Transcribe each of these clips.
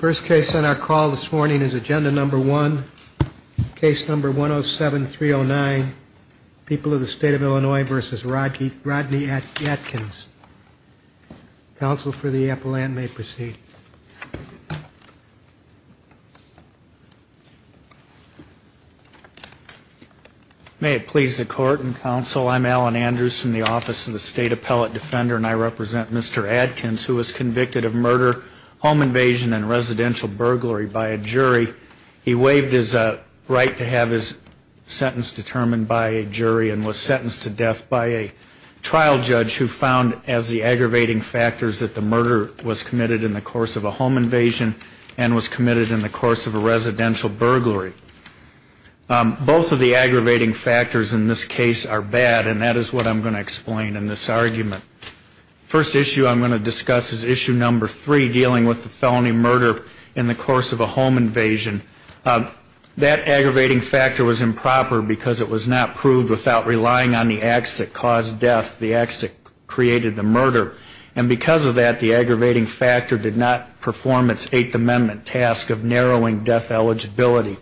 First case on our call this morning is agenda number one, case number 107-309, People of the State of Illinois v. Rodney Adkins. Counsel for the appellant may proceed. May it please the court and counsel, I'm Alan Andrews from the Office of the State Appellate Defender, and I represent Mr. Adkins, who was convicted of murder, home invasion and residential burglary by a jury. He waived his right to have his sentence determined by a jury and was sentenced to death by a trial judge who found as the aggravating factors that the murder was committed in the course of a home invasion and was committed in the course of a residential burglary. Both of the aggravating factors in this case are bad, and that is what I'm going to explain in this argument. First issue I'm going to discuss is issue number three, dealing with the felony murder in the course of a home invasion. That aggravating factor was improper because it was not proved without relying on the acts that caused death, the acts that created the murder. And because of that, the aggravating factor did not perform its Eighth Amendment task of narrowing death eligibility.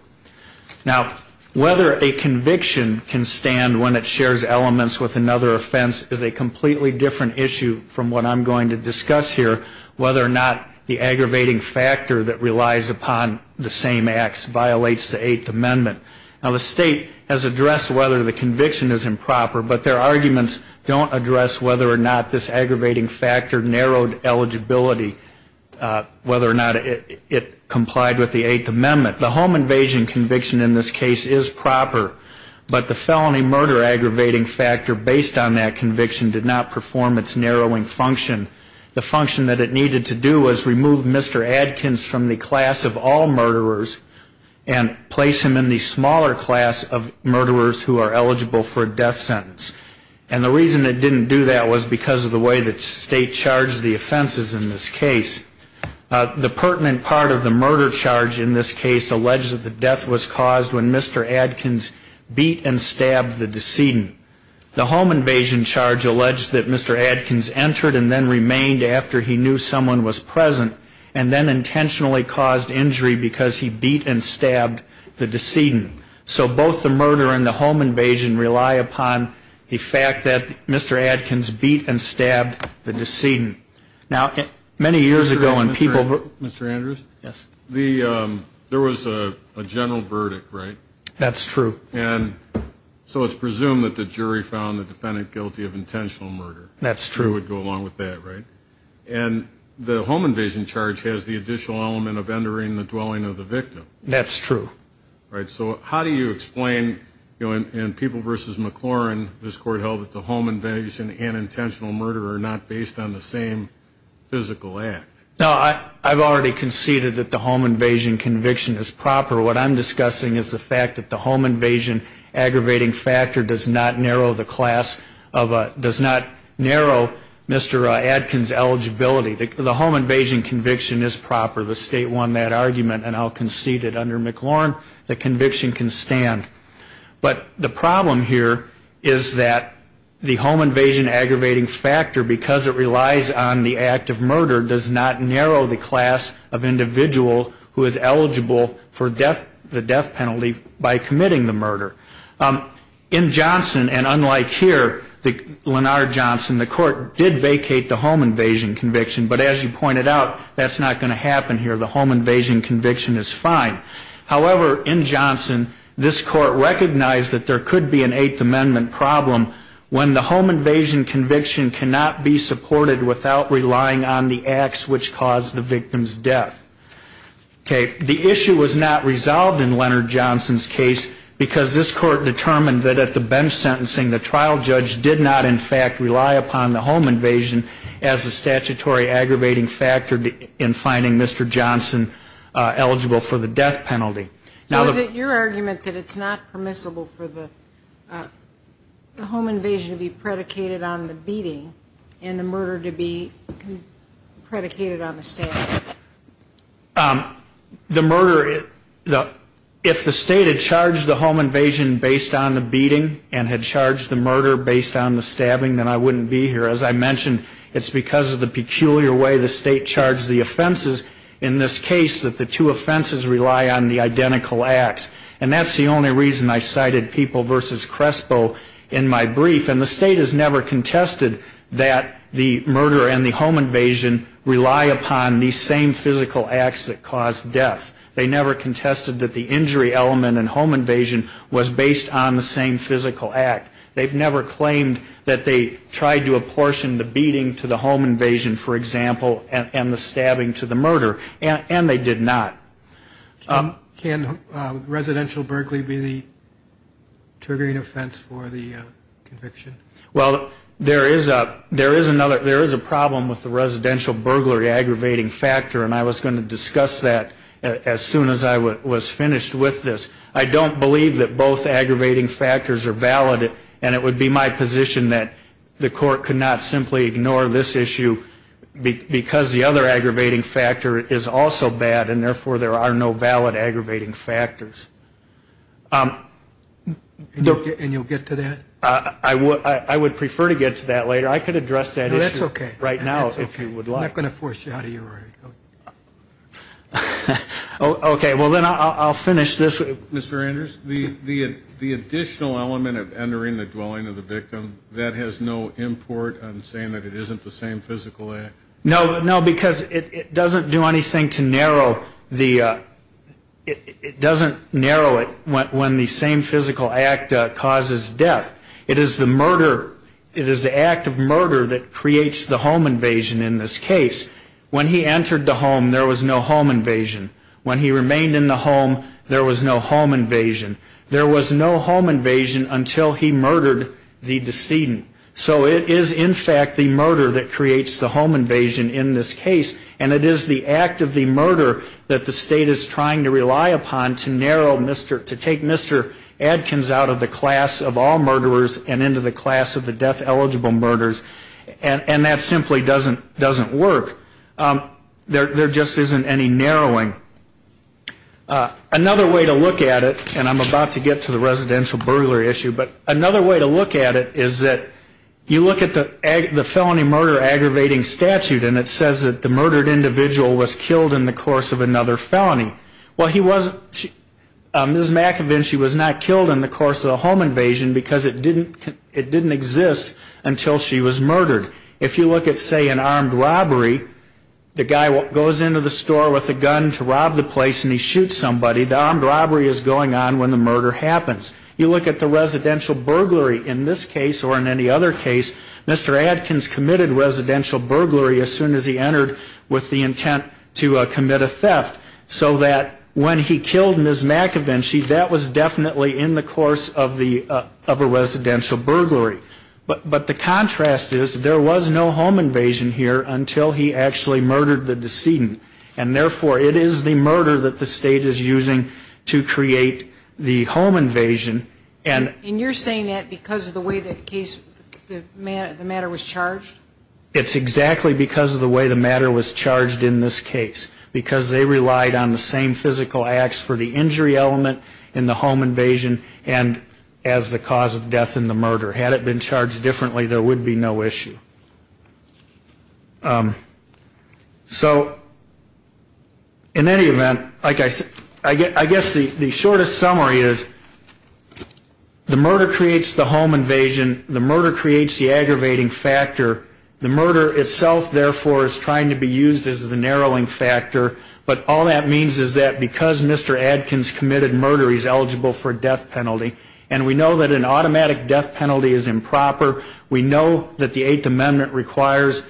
Now, whether a conviction can stand when it shares elements with another offense is a completely different issue from what I'm going to discuss here, whether or not the aggravating factor that relies upon the same acts violates the Eighth Amendment. Now, the State has addressed whether the conviction is improper, but their arguments don't address whether or not this aggravating factor narrowed eligibility, whether or not it complied with the Eighth Amendment. The home invasion conviction in this case is proper, but the felony murder aggravating factor based on that conviction did not perform its narrowing function. The function that it needed to do was remove Mr. Adkins from the class of all murderers and place him in the smaller class of murderers who are eligible for a death sentence. And the reason it didn't do that was because of the way that State charged the offenses in this case. The pertinent part of the murder charge in this case alleged that the death was caused when Mr. Adkins beat and stabbed the decedent. So both the murder and the home invasion rely upon the fact that Mr. Adkins beat and stabbed the decedent. Now, many years ago when people ---- Mr. Andrews? Yes. There was a general verdict, right? That's true. And so it's presumed that the jury found the defendant guilty of intentional murder. That's true. It would go along with that, right? And the home invasion charge has the additional element of entering the dwelling of the victim. That's true. Right. So how do you explain, you know, in People v. McLaurin, this Court held that the home invasion and intentional murder are not based on the same physical act. No, I've already conceded that the home invasion conviction is proper. What I'm discussing is the fact that the home invasion conviction is proper. The home invasion aggravating factor does not narrow the class of a ---- does not narrow Mr. Adkins' eligibility. The home invasion conviction is proper. The State won that argument and I'll concede that under McLaurin the conviction can stand. But the problem here is that the home invasion aggravating factor, because it relies on the act of murder, does not narrow the class of murder. In Johnson, and unlike here, Lenard Johnson, the Court did vacate the home invasion conviction, but as you pointed out, that's not going to happen here. The home invasion conviction is fine. However, in Johnson, this Court recognized that there could be an Eighth Amendment problem when the home invasion conviction cannot be supported without relying on the acts which caused the victim's death. Okay. The issue was not resolved in Lenard Johnson's case because this Court determined that at the bench sentencing, the trial judge did not, in fact, rely upon the home invasion as a statutory aggravating factor in finding Mr. Johnson eligible for the death penalty. So is it your argument that it's not permissible for the home invasion to be predicated on the beating and the murder to be predicated on the stabbing? The murder, if the state had charged the home invasion based on the beating and had charged the murder based on the stabbing, then I wouldn't be here. As I mentioned, it's because of the peculiar way the state charged the offenses in this case that the two offenses rely on the identical acts. And that's the only reason I cited People v. Crespo in my brief. And the state has never contested that the murder and the home invasion rely upon these same physical acts that caused death. They never contested that the injury element and home invasion was based on the same physical act. They've never claimed that they tried to apportion the beating to the home invasion, for example, and the stabbing to the murder. And they did not. Can residential burglary be the triggering offense for the conviction? Well, there is a problem with the residential burglary aggravating factor, and I was going to discuss that as soon as I was finished with this. I don't believe that both aggravating factors are valid, and it would be my position that the court could not simply ignore this issue because the other aggravating factor is also bad, and therefore there are no valid aggravating factors. And you'll get to that? I would prefer to get to that later. I could address that issue right now if you would like. That's okay. I'm not going to force you out of your order. Okay. Well, then I'll finish this. Mr. Andrews, the additional element of entering the dwelling of the victim, that has no import in saying that it isn't the same physical act? No, because it doesn't do anything to narrow the, it doesn't narrow it when the same physical act causes death. It is the murder, it is the act of murder that creates the home invasion in this case. When he entered the home, there was no home invasion. When he remained in the home, there was no home invasion. There was no home invasion until he murdered the decedent. So it is in fact the murder that creates the home invasion in this case. And it is the act of the murder that the state is trying to rely upon to narrow, to take Mr. Adkins out of the class of all murderers and into the class of the death eligible murderers. And that simply doesn't work. There just isn't any narrowing. Another way to look at it, and I'm about to get to the residential burglar issue, but another way to look at it is that you look at the felony murder aggravating statute and it says that the murdered individual was killed in the course of another felony. Well, he wasn't, Ms. McEvin, she was not killed in the course of a home invasion because it didn't exist until she was murdered. If you look at, say, an armed robbery, the guy goes into the store with a gun to rob the place and he shoots somebody, the armed robbery is going on when the murder happens. You look at the residential burglary in this case or in any other case, Mr. Adkins committed residential burglary as soon as he entered with the intent to commit a theft. So that when he killed Ms. McEvin, that was definitely in the course of a residential burglary. But the contrast is there was no home invasion here until he actually murdered the decedent. And therefore, it is the murder that the state is using to create the home invasion. And you're saying that because of the way the case, the matter was charged? It's exactly because of the way the matter was charged in this case. Because they relied on the same physical acts for the injury element in the home invasion and as the cause of death in the murder. Had it been charged differently, there would be no issue. So in any event, I guess the shortest summary is, if you look at the statute, the murder creates the home invasion, the murder creates the aggravating factor. The murder itself, therefore, is trying to be used as the narrowing factor. But all that means is that because Mr. Adkins committed murder, he's eligible for a death penalty. And we know that an automatic death penalty is improper. We know that the Eighth Amendment requires,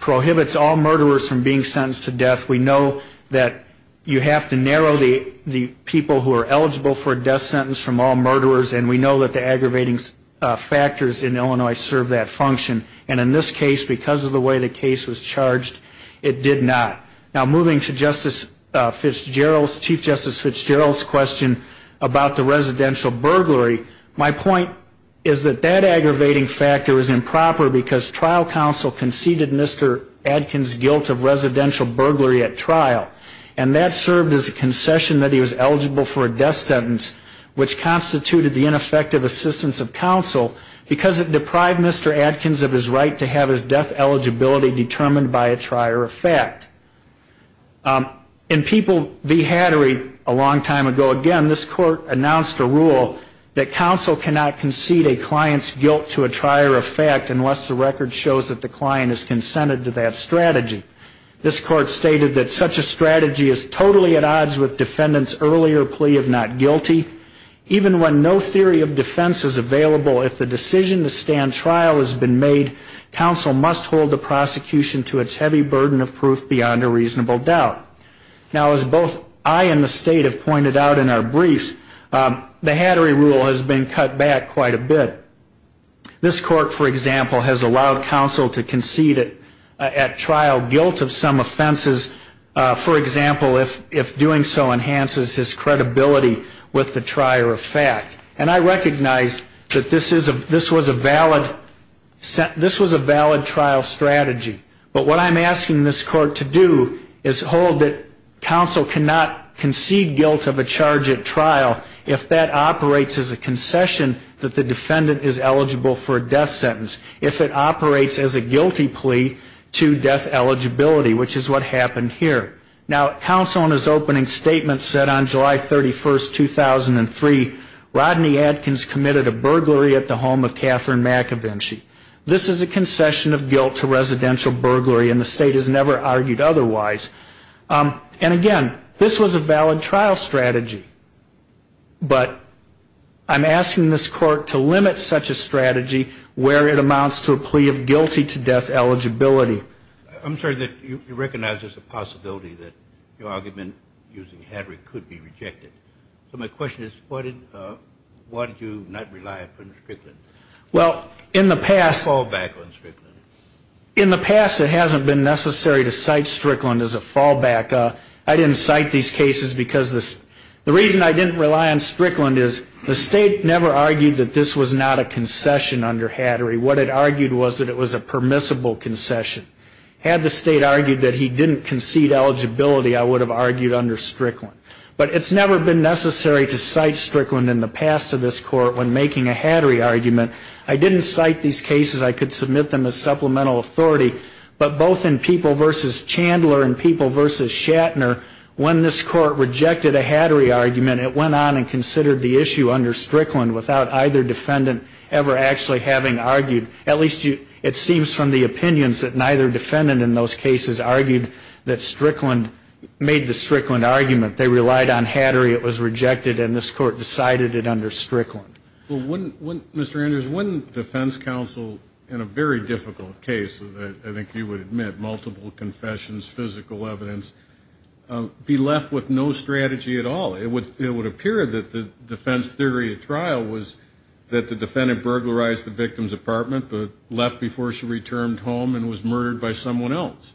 prohibits all murderers from being sentenced to death. We know that you have to narrow the people who are eligible for a death sentence from all murderers. And we know that the aggravating factors in Illinois serve that function. And in this case, because of the way the case was charged, it did not. Now, moving to Chief Justice Fitzgerald's question about the residential burglary, my point is that that aggravating factor is improper because trial counsel conceded Mr. Adkins' guilt of residential burglary at trial, and that served as a concession that he was eligible for a death sentence, which constituted the ineffective assistance of counsel because it deprived Mr. Adkins of his right to have his death eligibility determined by a trier of fact. In people behattered a long time ago again, this Court announced a rule that counsel cannot concede a client's guilt to a trier of fact unless the record shows that the client has consented to that strategy. This Court stated that such a strategy is totally at odds with defendants' earlier plea of not guilty. Even when no theory of defense is available, if the decision to stand trial has been made, counsel must hold the prosecution to its heavy burden of proof beyond a reasonable doubt. Now, as both I and the State have pointed out in our briefs, the hattery rule has been cut back quite a bit. This Court, for example, has allowed counsel to concede at trial guilt of some offenses, for example, if doing so enhances his credibility with the trier of fact. And I recognize that this was a valid trial strategy. But what I'm asking this Court to do is hold that counsel cannot concede guilt of a charge at trial if that operates as a concession that the defendant is eligible for a death sentence, if it operates as a guilty plea to death eligibility, which is what happened here. Now, counsel in his opening statement said on July 31, 2003, Rodney Adkins committed a burglary at the home of Catherine McAvinchie. This is a concession of guilt to residential burglary, and the State has never argued otherwise. And again, this was a valid trial strategy. But I'm asking this Court to limit such a strategy where it amounts to a plea of guilty to death eligibility. I'm sorry that you recognize there's a possibility that your argument using hattery could be rejected. So my question is, why did you not rely upon Strickland? Well, in the past... I didn't cite these cases because the reason I didn't rely on Strickland is the State never argued that this was not a concession under hattery. What it argued was that it was a permissible concession. Had the State argued that he didn't concede eligibility, I would have argued under Strickland. But it's never been necessary to cite Strickland in the past to this Court when making a hattery argument. I didn't cite these cases. I could submit them as supplemental authority, but both in People v. Chandler and People v. Shatner, when this Court rejected a hattery argument, it went on and considered the issue under Strickland without either defendant ever actually having argued. At least it seems from the opinions that neither defendant in those cases argued that Strickland made the Strickland argument. They relied on hattery. It was rejected, and this Court decided it under Strickland. Well, wouldn't, Mr. Andrews, wouldn't defense counsel in a very difficult case, I think you would admit, multiple confessions, physical evidence, be left with no strategy at all? It would appear that the defense theory at trial was that the defendant burglarized the victim's apartment, but left before she returned home and was murdered by someone else.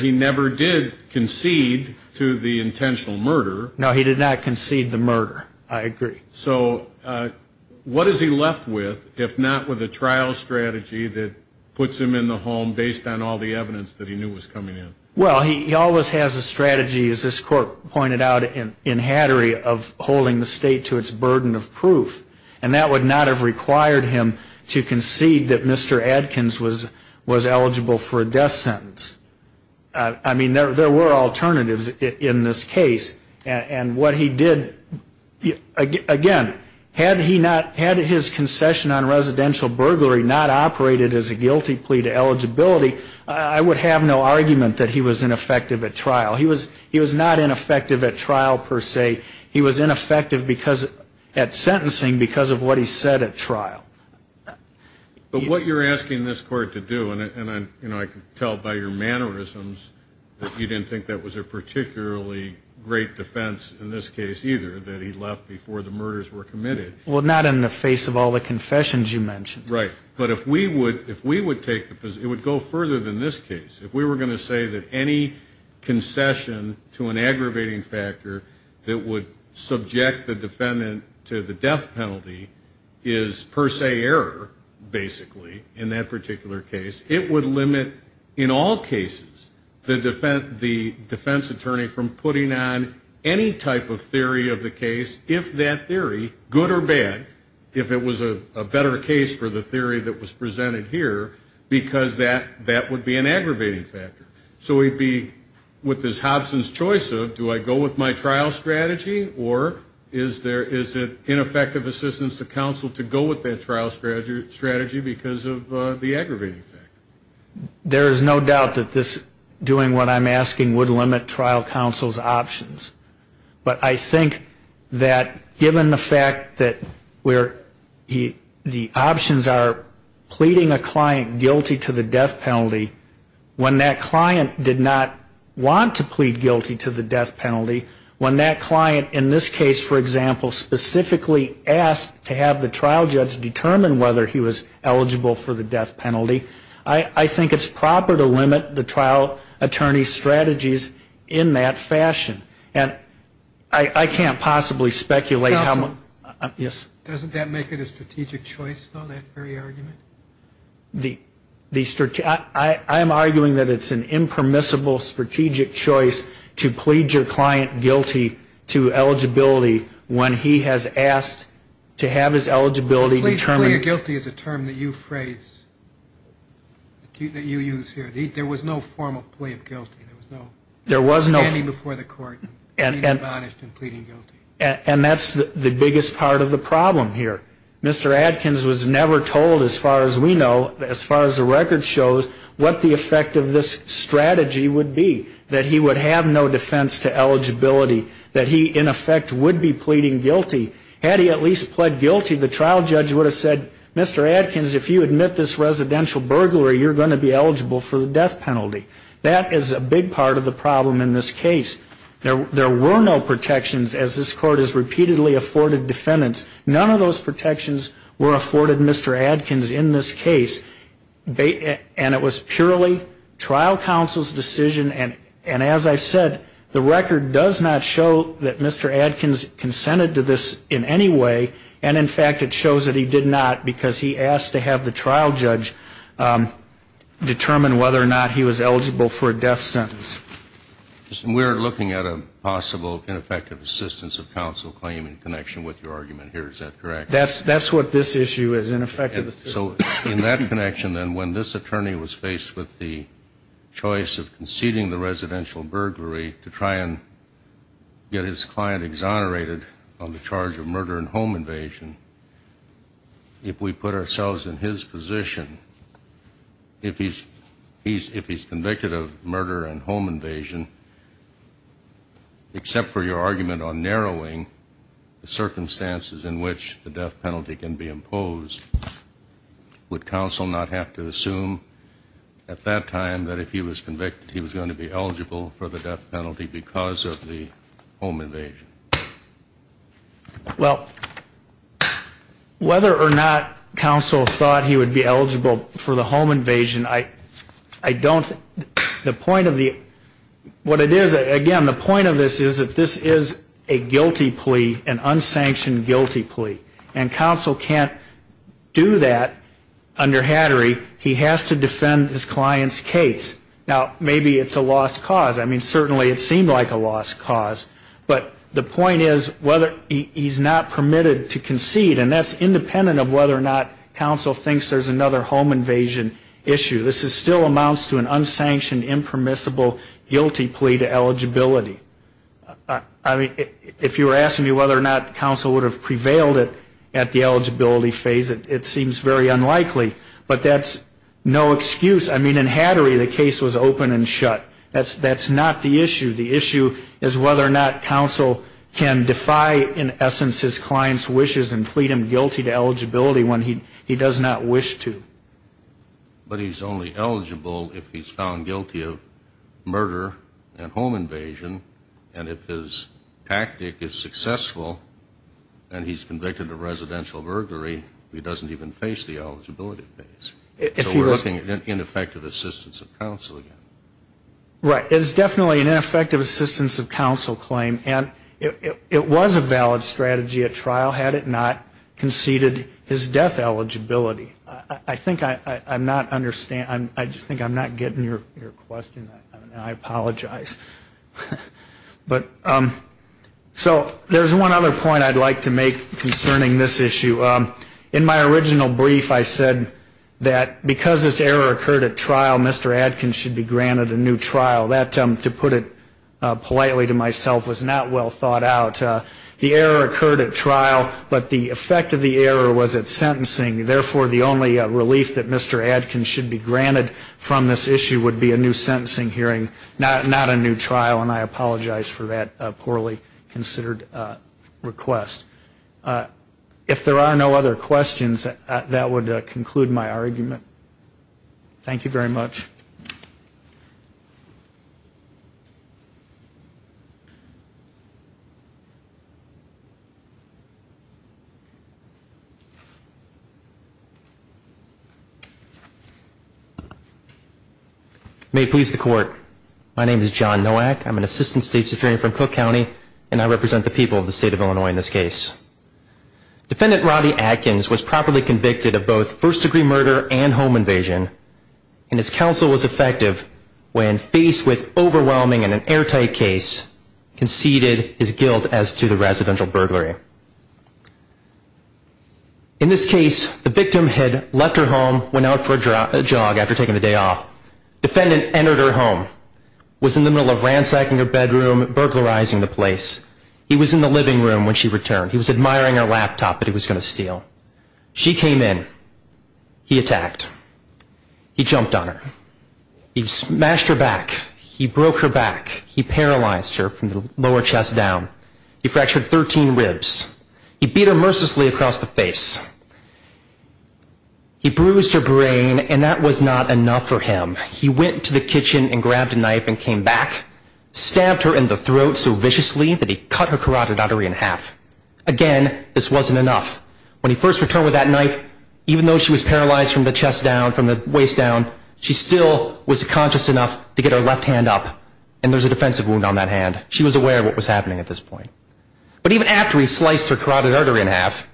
He never did concede to the intentional murder. No, he did not concede the murder. I agree. So what is he left with, if not with a trial strategy that puts him in the home based on all the evidence that he knew was coming in? Well, he always has a strategy, as this Court pointed out in hattery, of holding the State to its burden of proof, and that would not have required him to concede that Mr. Adkins was eligible for a death sentence. I mean, there were alternatives in this case, and what he did, again, had his concession on residential burglary not operated as a guilty plea to eligibility, I would have no argument that he was ineffective at trial. He was not ineffective at trial, per se. He was ineffective at sentencing because of what he said at trial. But what you're asking this Court to do, and I can tell by your mannerisms that you didn't think that was a particularly great defense in this case either, that he left before the murders were committed. Well, not in the face of all the confessions you mentioned. Right. But if we would take the position, it would go further than this case. If we were going to say that any concession to an aggravating factor that would subject the defendant to the death penalty is per se error, basically, in that particular case, it would limit in all cases the defense attorney from putting on any type of theory of the case, if that theory, good or bad, if it was a better case for the theory that was presented here, because that would be an aggravating factor. So we'd be with this Hobson's choice of do I go with my trial strategy, or is it ineffective assistance to counsel to go with that trial strategy because of the aggravating factor? There is no doubt that this doing what I'm asking would limit trial counsel's options. But I think that given the fact that where the options are pleading a client guilty to the death penalty, when that client did not want to plead guilty to the death penalty, when that client in this case, for example, specifically asked to have the trial judge determine whether he was eligible for the death penalty, I think it's proper to limit the trial attorney's strategies in that fashion. And I can't possibly speculate how much. Doesn't that make it a strategic choice, though, that very argument? I am arguing that it's an impermissible strategic choice to plead your client guilty to eligibility when he has asked to have his eligibility determined. Pleading guilty is a term that you phrase, that you use here. There was no formal plea of guilty. There was no standing before the court and being admonished and pleading guilty. And that's the biggest part of the problem here. Mr. Adkins was never told, as far as we know, as far as the record shows, what the effect of this strategy would be, that he would have no defense to eligibility, that he, in effect, would be pleading guilty. Had he at least pled guilty, the trial judge would have said, Mr. Adkins, if you admit this residential burglary, you're going to be eligible for the death penalty. That is a big part of the problem in this case. There were no protections, as this court has repeatedly afforded defendants. None of those protections were afforded Mr. Adkins in this case. And it was purely trial counsel's decision. And as I said, the record does not show that Mr. Adkins consented to this in any way. And, in fact, it shows that he did not because he asked to have the trial judge determine whether or not he was eligible for a death sentence. We're looking at a possible ineffective assistance of counsel claim in connection with your argument here. Is that correct? That's what this issue is, ineffective assistance. So in that connection, then, when this attorney was faced with the choice of conceding the residential burglary to try and get his client exonerated on the charge of murder and home invasion, if we put ourselves in his position, if he's convicted of murder and home invasion, except for your argument on narrowing the circumstances in which the death penalty can be imposed, would counsel not have to assume at that time that if he was convicted, he was going to be eligible for the death penalty because of the home invasion? Well, whether or not counsel thought he would be eligible for the home invasion, I don't, the point of the, what it is, again, the point of this is that this is a guilty plea, an unsanctioned guilty plea, and counsel can't do that under Hattery. He has to defend his client's case. Now, maybe it's a lost cause. I mean, certainly it seemed like a lost cause. And that's independent of whether or not counsel thinks there's another home invasion issue. This still amounts to an unsanctioned, impermissible guilty plea to eligibility. I mean, if you were asking me whether or not counsel would have prevailed at the eligibility phase, it seems very unlikely, but that's no excuse. I mean, in Hattery, the case was open and shut. That's not the issue. The issue is whether or not counsel can defy, in essence, his client's wishes and plead him guilty to eligibility when he does not wish to. But he's only eligible if he's found guilty of murder and home invasion, and if his tactic is successful and he's convicted of residential burglary, he doesn't even face the eligibility phase. So we're looking at ineffective assistance of counsel again. Right. It's definitely an ineffective assistance of counsel claim, and it was a valid strategy at trial, had it not conceded his death eligibility. I think I'm not understanding. I just think I'm not getting your question. I apologize. So there's one other point I'd like to make concerning this issue. In my original brief, I said that because this error occurred at trial, Mr. Adkins should be granted a new trial. That, to put it politely to myself, was not well thought out. The error occurred at trial, but the effect of the error was at sentencing. Therefore, the only relief that Mr. Adkins should be granted from this issue would be a new sentencing hearing, not a new trial, and I apologize for that poorly considered request. If there are no other questions, that would conclude my argument. Thank you very much. May it please the Court. My name is John Nowak. I'm an Assistant State Superior from Cook County, and I represent the people of the State of Illinois in this case. Defendant Roddy Adkins was properly convicted of both first-degree murder and home invasion, and his counsel was effective when, faced with overwhelming and an airtight case, conceded his guilt as to the residential burglary. In this case, the victim had left her home, went out for a jog after taking the day off. Defendant entered her home, was in the middle of ransacking her bedroom, burglarizing the place. He was in the living room when she returned. He was admiring her laptop that he was going to steal. She came in. He attacked. He jumped on her. He smashed her back. He broke her back. He paralyzed her from the lower chest down. He fractured 13 ribs. He beat her mercilessly across the face. He bruised her brain, and that was not enough for him. He went to the kitchen and grabbed a knife and came back, stabbed her in the throat so viciously that he cut her carotid artery in half. Again, this wasn't enough. When he first returned with that knife, even though she was paralyzed from the chest down, from the waist down, she still was conscious enough to get her left hand up, and there's a defensive wound on that hand. She was aware of what was happening at this point. But even after he sliced her carotid artery in half,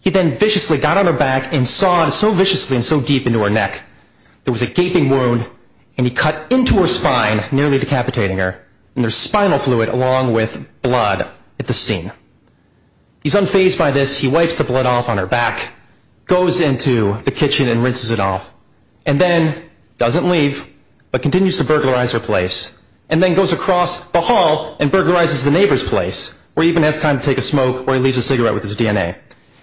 he then viciously got on her back and sawed so viciously and so deep into her neck. There was a gaping wound, and he cut into her spine, nearly decapitating her, and there's spinal fluid along with blood at the seam. He's unfazed by this. He wipes the blood off on her back, goes into the kitchen and rinses it off, and then doesn't leave but continues to burglarize her place and then goes across the hall and burglarizes the neighbor's place or even has time to take a smoke or he leaves a cigarette with his DNA.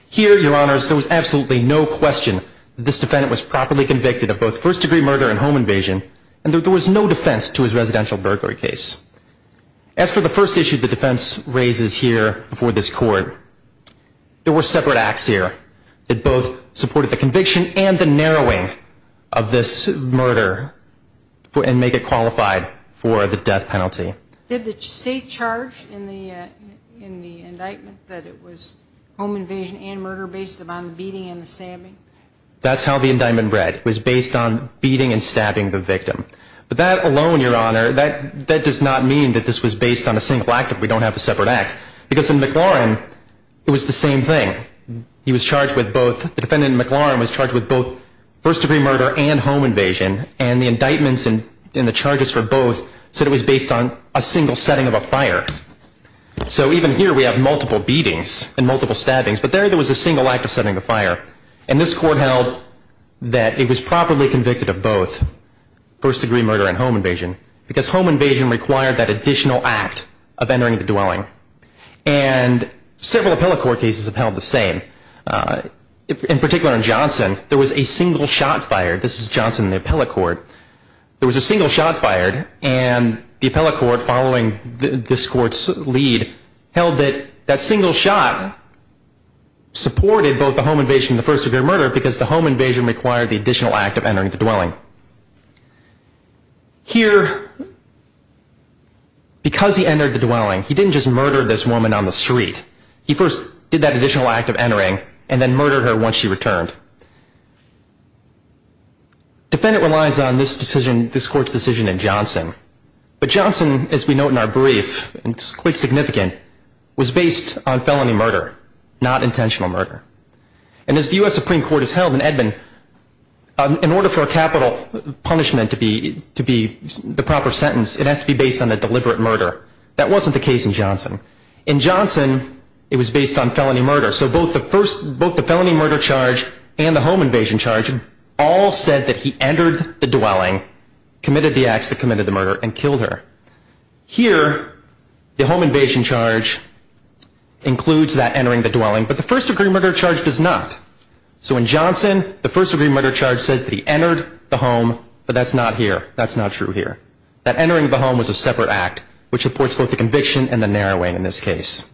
Here, Your Honors, there was absolutely no question that this defendant was properly convicted of both first-degree murder and home invasion, and there was no defense to his residential burglary case. As for the first issue the defense raises here before this court, there were separate acts here that both supported the conviction and the narrowing of this murder and make it qualified for the death penalty. Did the state charge in the indictment that it was home invasion and murder based upon the beating and the stabbing? That's how the indictment read. It was based on beating and stabbing the victim. But that alone, Your Honor, that does not mean that this was based on a single act if we don't have a separate act because in McLaurin it was the same thing. He was charged with both. The defendant in McLaurin was charged with both first-degree murder and home invasion, and the indictments and the charges for both said it was based on a single setting of a fire. So even here we have multiple beatings and multiple stabbings, but there there was a single act of setting the fire. And this court held that it was properly convicted of both first-degree murder and home invasion and several appellate court cases have held the same. In particular in Johnson, there was a single shot fired. This is Johnson in the appellate court. There was a single shot fired, and the appellate court following this court's lead held that that single shot supported both the home invasion and the first-degree murder because the home invasion required the additional act of entering the dwelling. Here, because he entered the dwelling, he didn't just murder this woman on the street. He first did that additional act of entering and then murdered her once she returned. Defendant relies on this court's decision in Johnson. But Johnson, as we note in our brief, and it's quite significant, was based on felony murder, not intentional murder. And as the U.S. Supreme Court has held in Edmond, in order for a capital punishment to be the proper sentence, it has to be based on a deliberate murder. That wasn't the case in Johnson. In Johnson, it was based on felony murder. So both the felony murder charge and the home invasion charge all said that he entered the dwelling, committed the acts that committed the murder, and killed her. Here, the home invasion charge includes that entering the dwelling, but the first-degree murder charge does not. So in Johnson, the first-degree murder charge says that he entered the home, but that's not here. That's not true here. That entering the home was a separate act, which supports both the conviction and the narrowing in this case.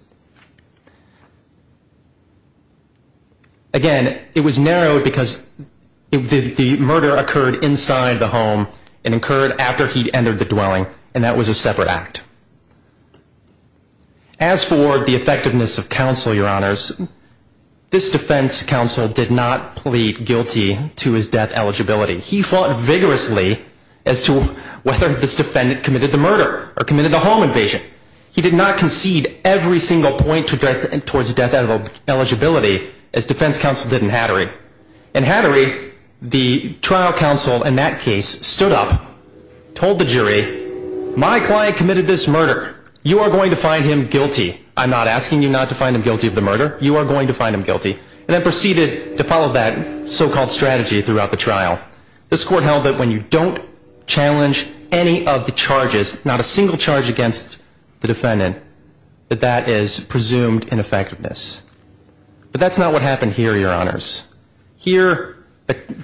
Again, it was narrowed because the murder occurred inside the home and occurred after he'd entered the dwelling, and that was a separate act. As for the effectiveness of counsel, Your Honors, this defense counsel did not plead guilty to his death eligibility. He fought vigorously as to whether this defendant committed the murder or committed the home invasion. He did not concede every single point towards death eligibility, as defense counsel did in Hattery. In Hattery, the trial counsel in that case stood up, told the jury, my client committed this murder. You are going to find him guilty. I'm not asking you not to find him guilty of the murder. You are going to find him guilty, and then proceeded to follow that so-called strategy throughout the trial. This court held that when you don't challenge any of the charges, not a single charge against the defendant, that that is presumed ineffectiveness. But that's not what happened here, Your Honors. Here,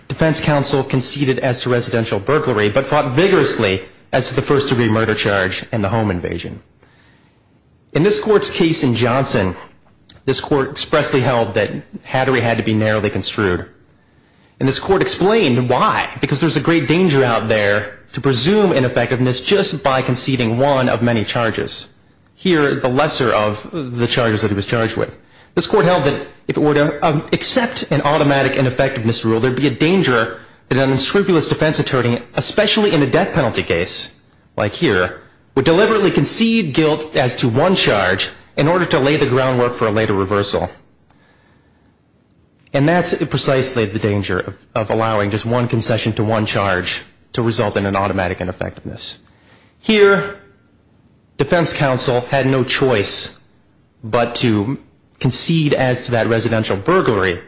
defense counsel conceded as to residential burglary, but fought vigorously as to the first-degree murder charge and the home invasion. In this court's case in Johnson, this court expressly held that Hattery had to be narrowly construed. And this court explained why, because there's a great danger out there to presume ineffectiveness just by conceding one of many charges. Here, the lesser of the charges that he was charged with. This court held that if it were to accept an automatic ineffectiveness rule, there would be a danger that an unscrupulous defense attorney, especially in a death penalty case like here, would deliberately concede guilt as to one charge in order to lay the groundwork for a later reversal. And that's precisely the danger of allowing just one concession to one charge to result in an automatic ineffectiveness. Here, defense counsel had no choice but to concede as to that residential burglary.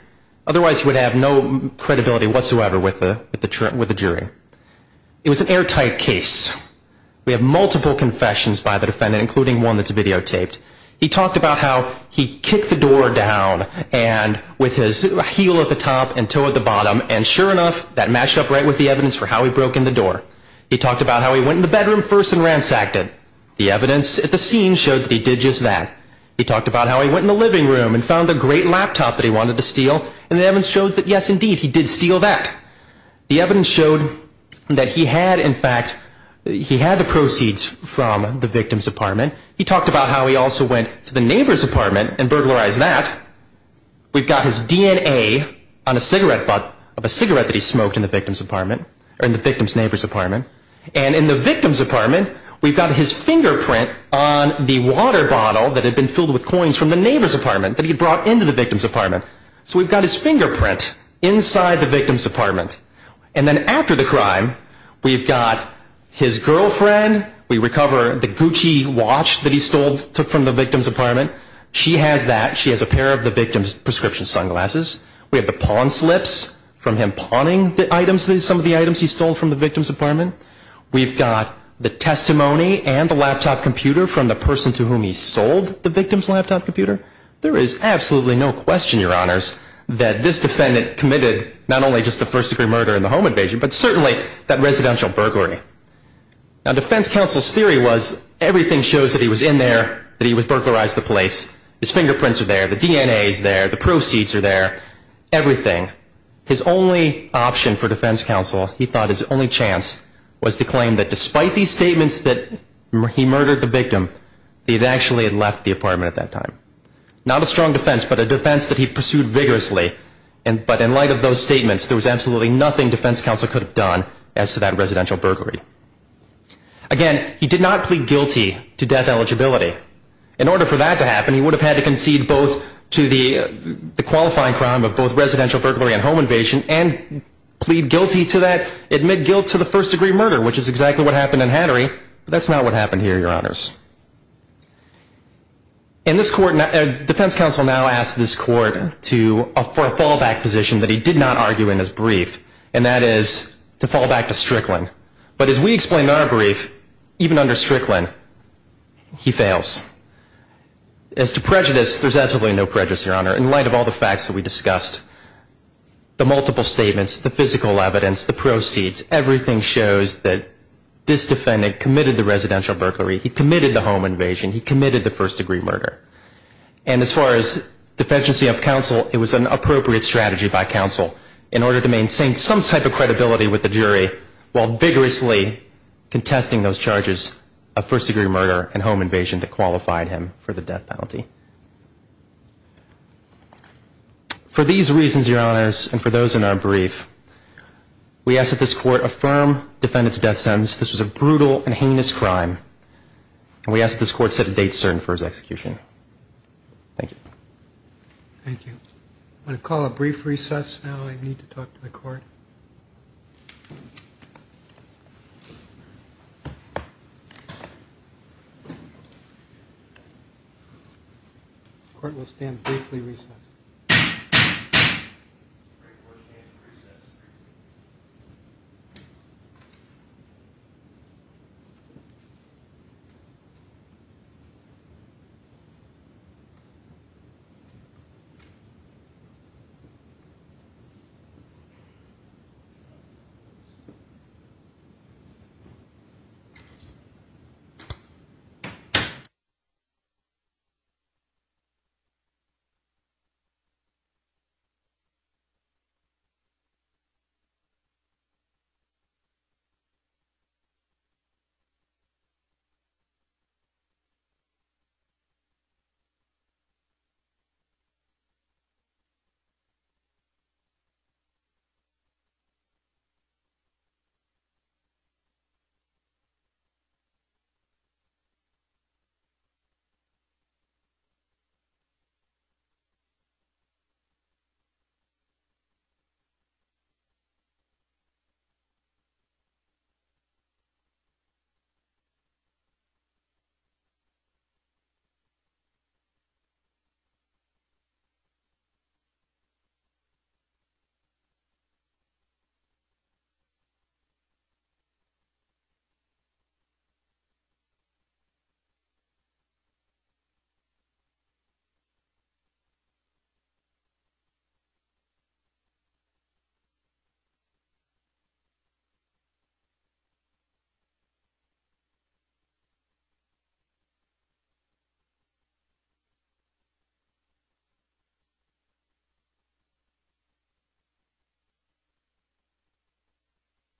Otherwise, he would have no credibility whatsoever with the jury. It was an airtight case. We have multiple confessions by the defendant, including one that's videotaped. He talked about how he kicked the door down with his heel at the top and toe at the bottom. And sure enough, that matched up right with the evidence for how he broke in the door. He talked about how he went in the bedroom first and ransacked it. The evidence at the scene showed that he did just that. He talked about how he went in the living room and found the great laptop that he wanted to steal. And the evidence showed that, yes, indeed, he did steal that. The evidence showed that he had, in fact, he had the proceeds from the victim's apartment. He talked about how he also went to the neighbor's apartment and burglarized that. We've got his DNA on a cigarette butt of a cigarette that he smoked in the victim's apartment and in the victim's apartment, we've got his fingerprint on the water bottle that had been filled with coins from the neighbor's apartment that he brought into the victim's apartment. So we've got his fingerprint inside the victim's apartment. And then after the crime, we've got his girlfriend. We recover the Gucci watch that he stole from the victim's apartment. She has that. She has a pair of the victim's prescription sunglasses. We have the pawn slips from him pawning the items, some of the items he stole from the victim's apartment. We've got the testimony and the laptop computer from the person to whom he sold the victim's laptop computer. There is absolutely no question, Your Honors, that this defendant committed not only just the first degree murder in the home invasion, but certainly that residential burglary. Now, defense counsel's theory was everything shows that he was in there, that he had burglarized the place. His fingerprints are there. The DNA is there. The proceeds are there. Everything. His only option for defense counsel, he thought his only chance, was to claim that despite these statements that he murdered the victim, he actually had left the apartment at that time. Not a strong defense, but a defense that he pursued vigorously. But in light of those statements, there was absolutely nothing defense counsel could have done as to that residential burglary. Again, he did not plead guilty to death eligibility. In order for that to happen, he would have had to concede both to the qualifying crime of both residential burglary and home invasion and plead guilty to that, admit guilt to the first degree murder, which is exactly what happened in Hattery. That's not what happened here, Your Honors. In this court, defense counsel now asked this court for a fallback position that he did not argue in his brief, and that is to fall back to Strickland. But as we explained in our brief, even under Strickland, he fails. As to prejudice, there's absolutely no prejudice, Your Honor. In light of all the facts that we discussed, the multiple statements, the physical evidence, the proceeds, everything shows that this defendant committed the residential burglary. He committed the home invasion. He committed the first degree murder. And as far as defense counsel, it was an appropriate strategy by counsel in order to maintain some type of credibility with the jury while vigorously contesting those charges of first degree murder and home invasion that qualified him for the death penalty. For these reasons, Your Honors, and for those in our brief, we ask that this court affirm defendant's death sentence. This was a brutal and heinous crime, and we ask that this court set a date certain for his execution. Thank you. Thank you. I'm going to call a brief recess now. I need to talk to the court. The court will stand briefly recessed.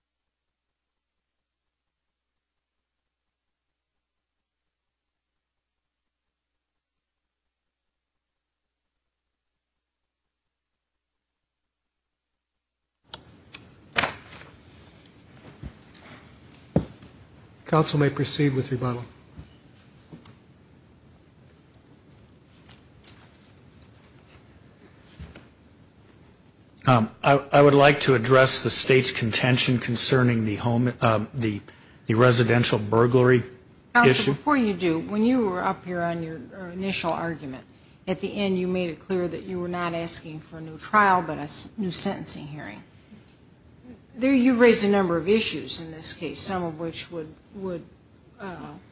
Thank you. Thank you. Thank you. Thank you. Counsel may proceed with rebuttal. I would like to address the state's contention concerning the residential burglary issue. Counsel, before you do, when you were up here on your initial argument, at the end you made it clear that you were not asking for a new trial but a new sentencing hearing. You raised a number of issues in this case, some of which would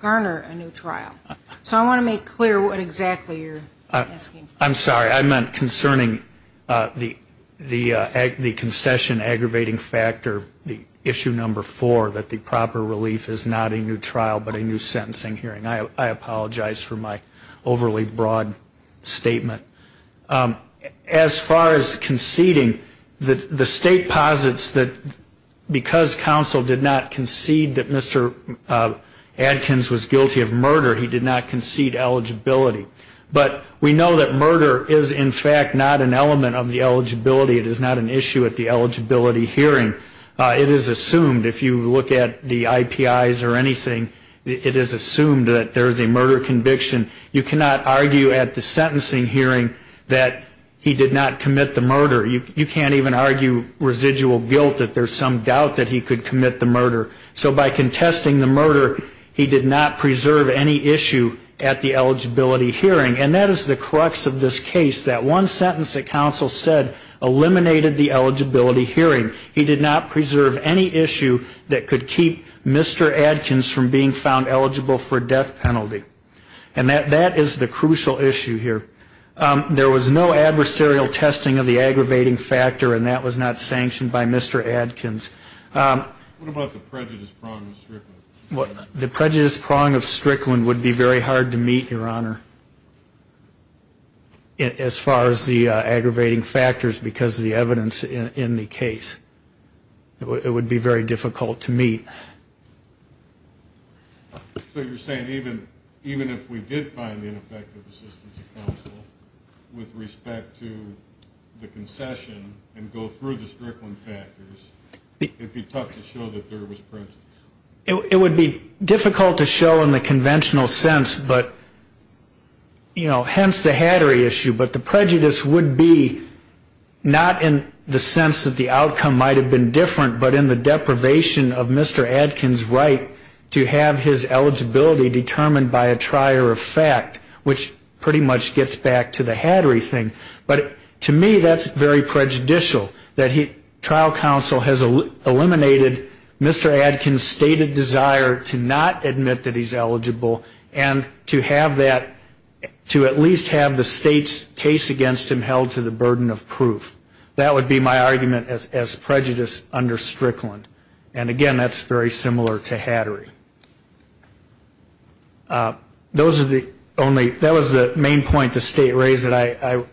garner a new trial. So I want to make clear what exactly you're asking for. I'm sorry. I meant concerning the concession aggravating factor, the issue number four, that the proper relief is not a new trial but a new sentencing hearing. I apologize for my overly broad statement. As far as conceding, the state posits that because counsel did not concede that Mr. Adkins was guilty of murder, he did not concede eligibility. But we know that murder is, in fact, not an element of the eligibility. It is not an issue at the eligibility hearing. It is assumed, if you look at the IPIs or anything, it is assumed that there is a murder conviction. You cannot argue at the sentencing hearing that he did not commit the murder. You can't even argue residual guilt that there's some doubt that he could commit the murder. So by contesting the murder, he did not preserve any issue at the eligibility hearing. And that is the crux of this case. That one sentence that counsel said eliminated the eligibility hearing. He did not preserve any issue that could keep Mr. Adkins from being found eligible for death penalty. And that is the crucial issue here. There was no adversarial testing of the aggravating factor, and that was not sanctioned by Mr. Adkins. What about the prejudice prong of Strickland? The prejudice prong of Strickland would be very hard to meet, Your Honor, as far as the aggravating factors because of the evidence in the case. It would be very difficult to meet. So you're saying even if we did find the ineffective assistance of counsel with respect to the concession and go through the Strickland factors, it would be tough to show that there was prejudice? It would be difficult to show in the conventional sense, but, you know, hence the Hattery issue. But the prejudice would be not in the sense that the outcome might have been different, but in the deprivation of Mr. Adkins' right to have his eligibility determined by a trier of fact, which pretty much gets back to the Hattery thing. But to me that's very prejudicial that trial counsel has eliminated Mr. Adkins' stated desire to not admit that he's eligible and to have that, to at least have the state's case against him held to the burden of proof. That would be my argument as prejudice under Strickland. And, again, that's very similar to Hattery. Those are the only ñ that was the main point the State raised that I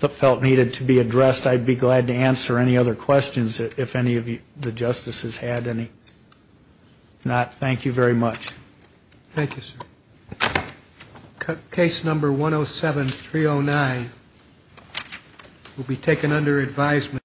felt needed to be addressed. I'd be glad to answer any other questions if any of the Justices had any. If not, thank you very much. Thank you, sir. Case number 107-309 will be taken under advisement.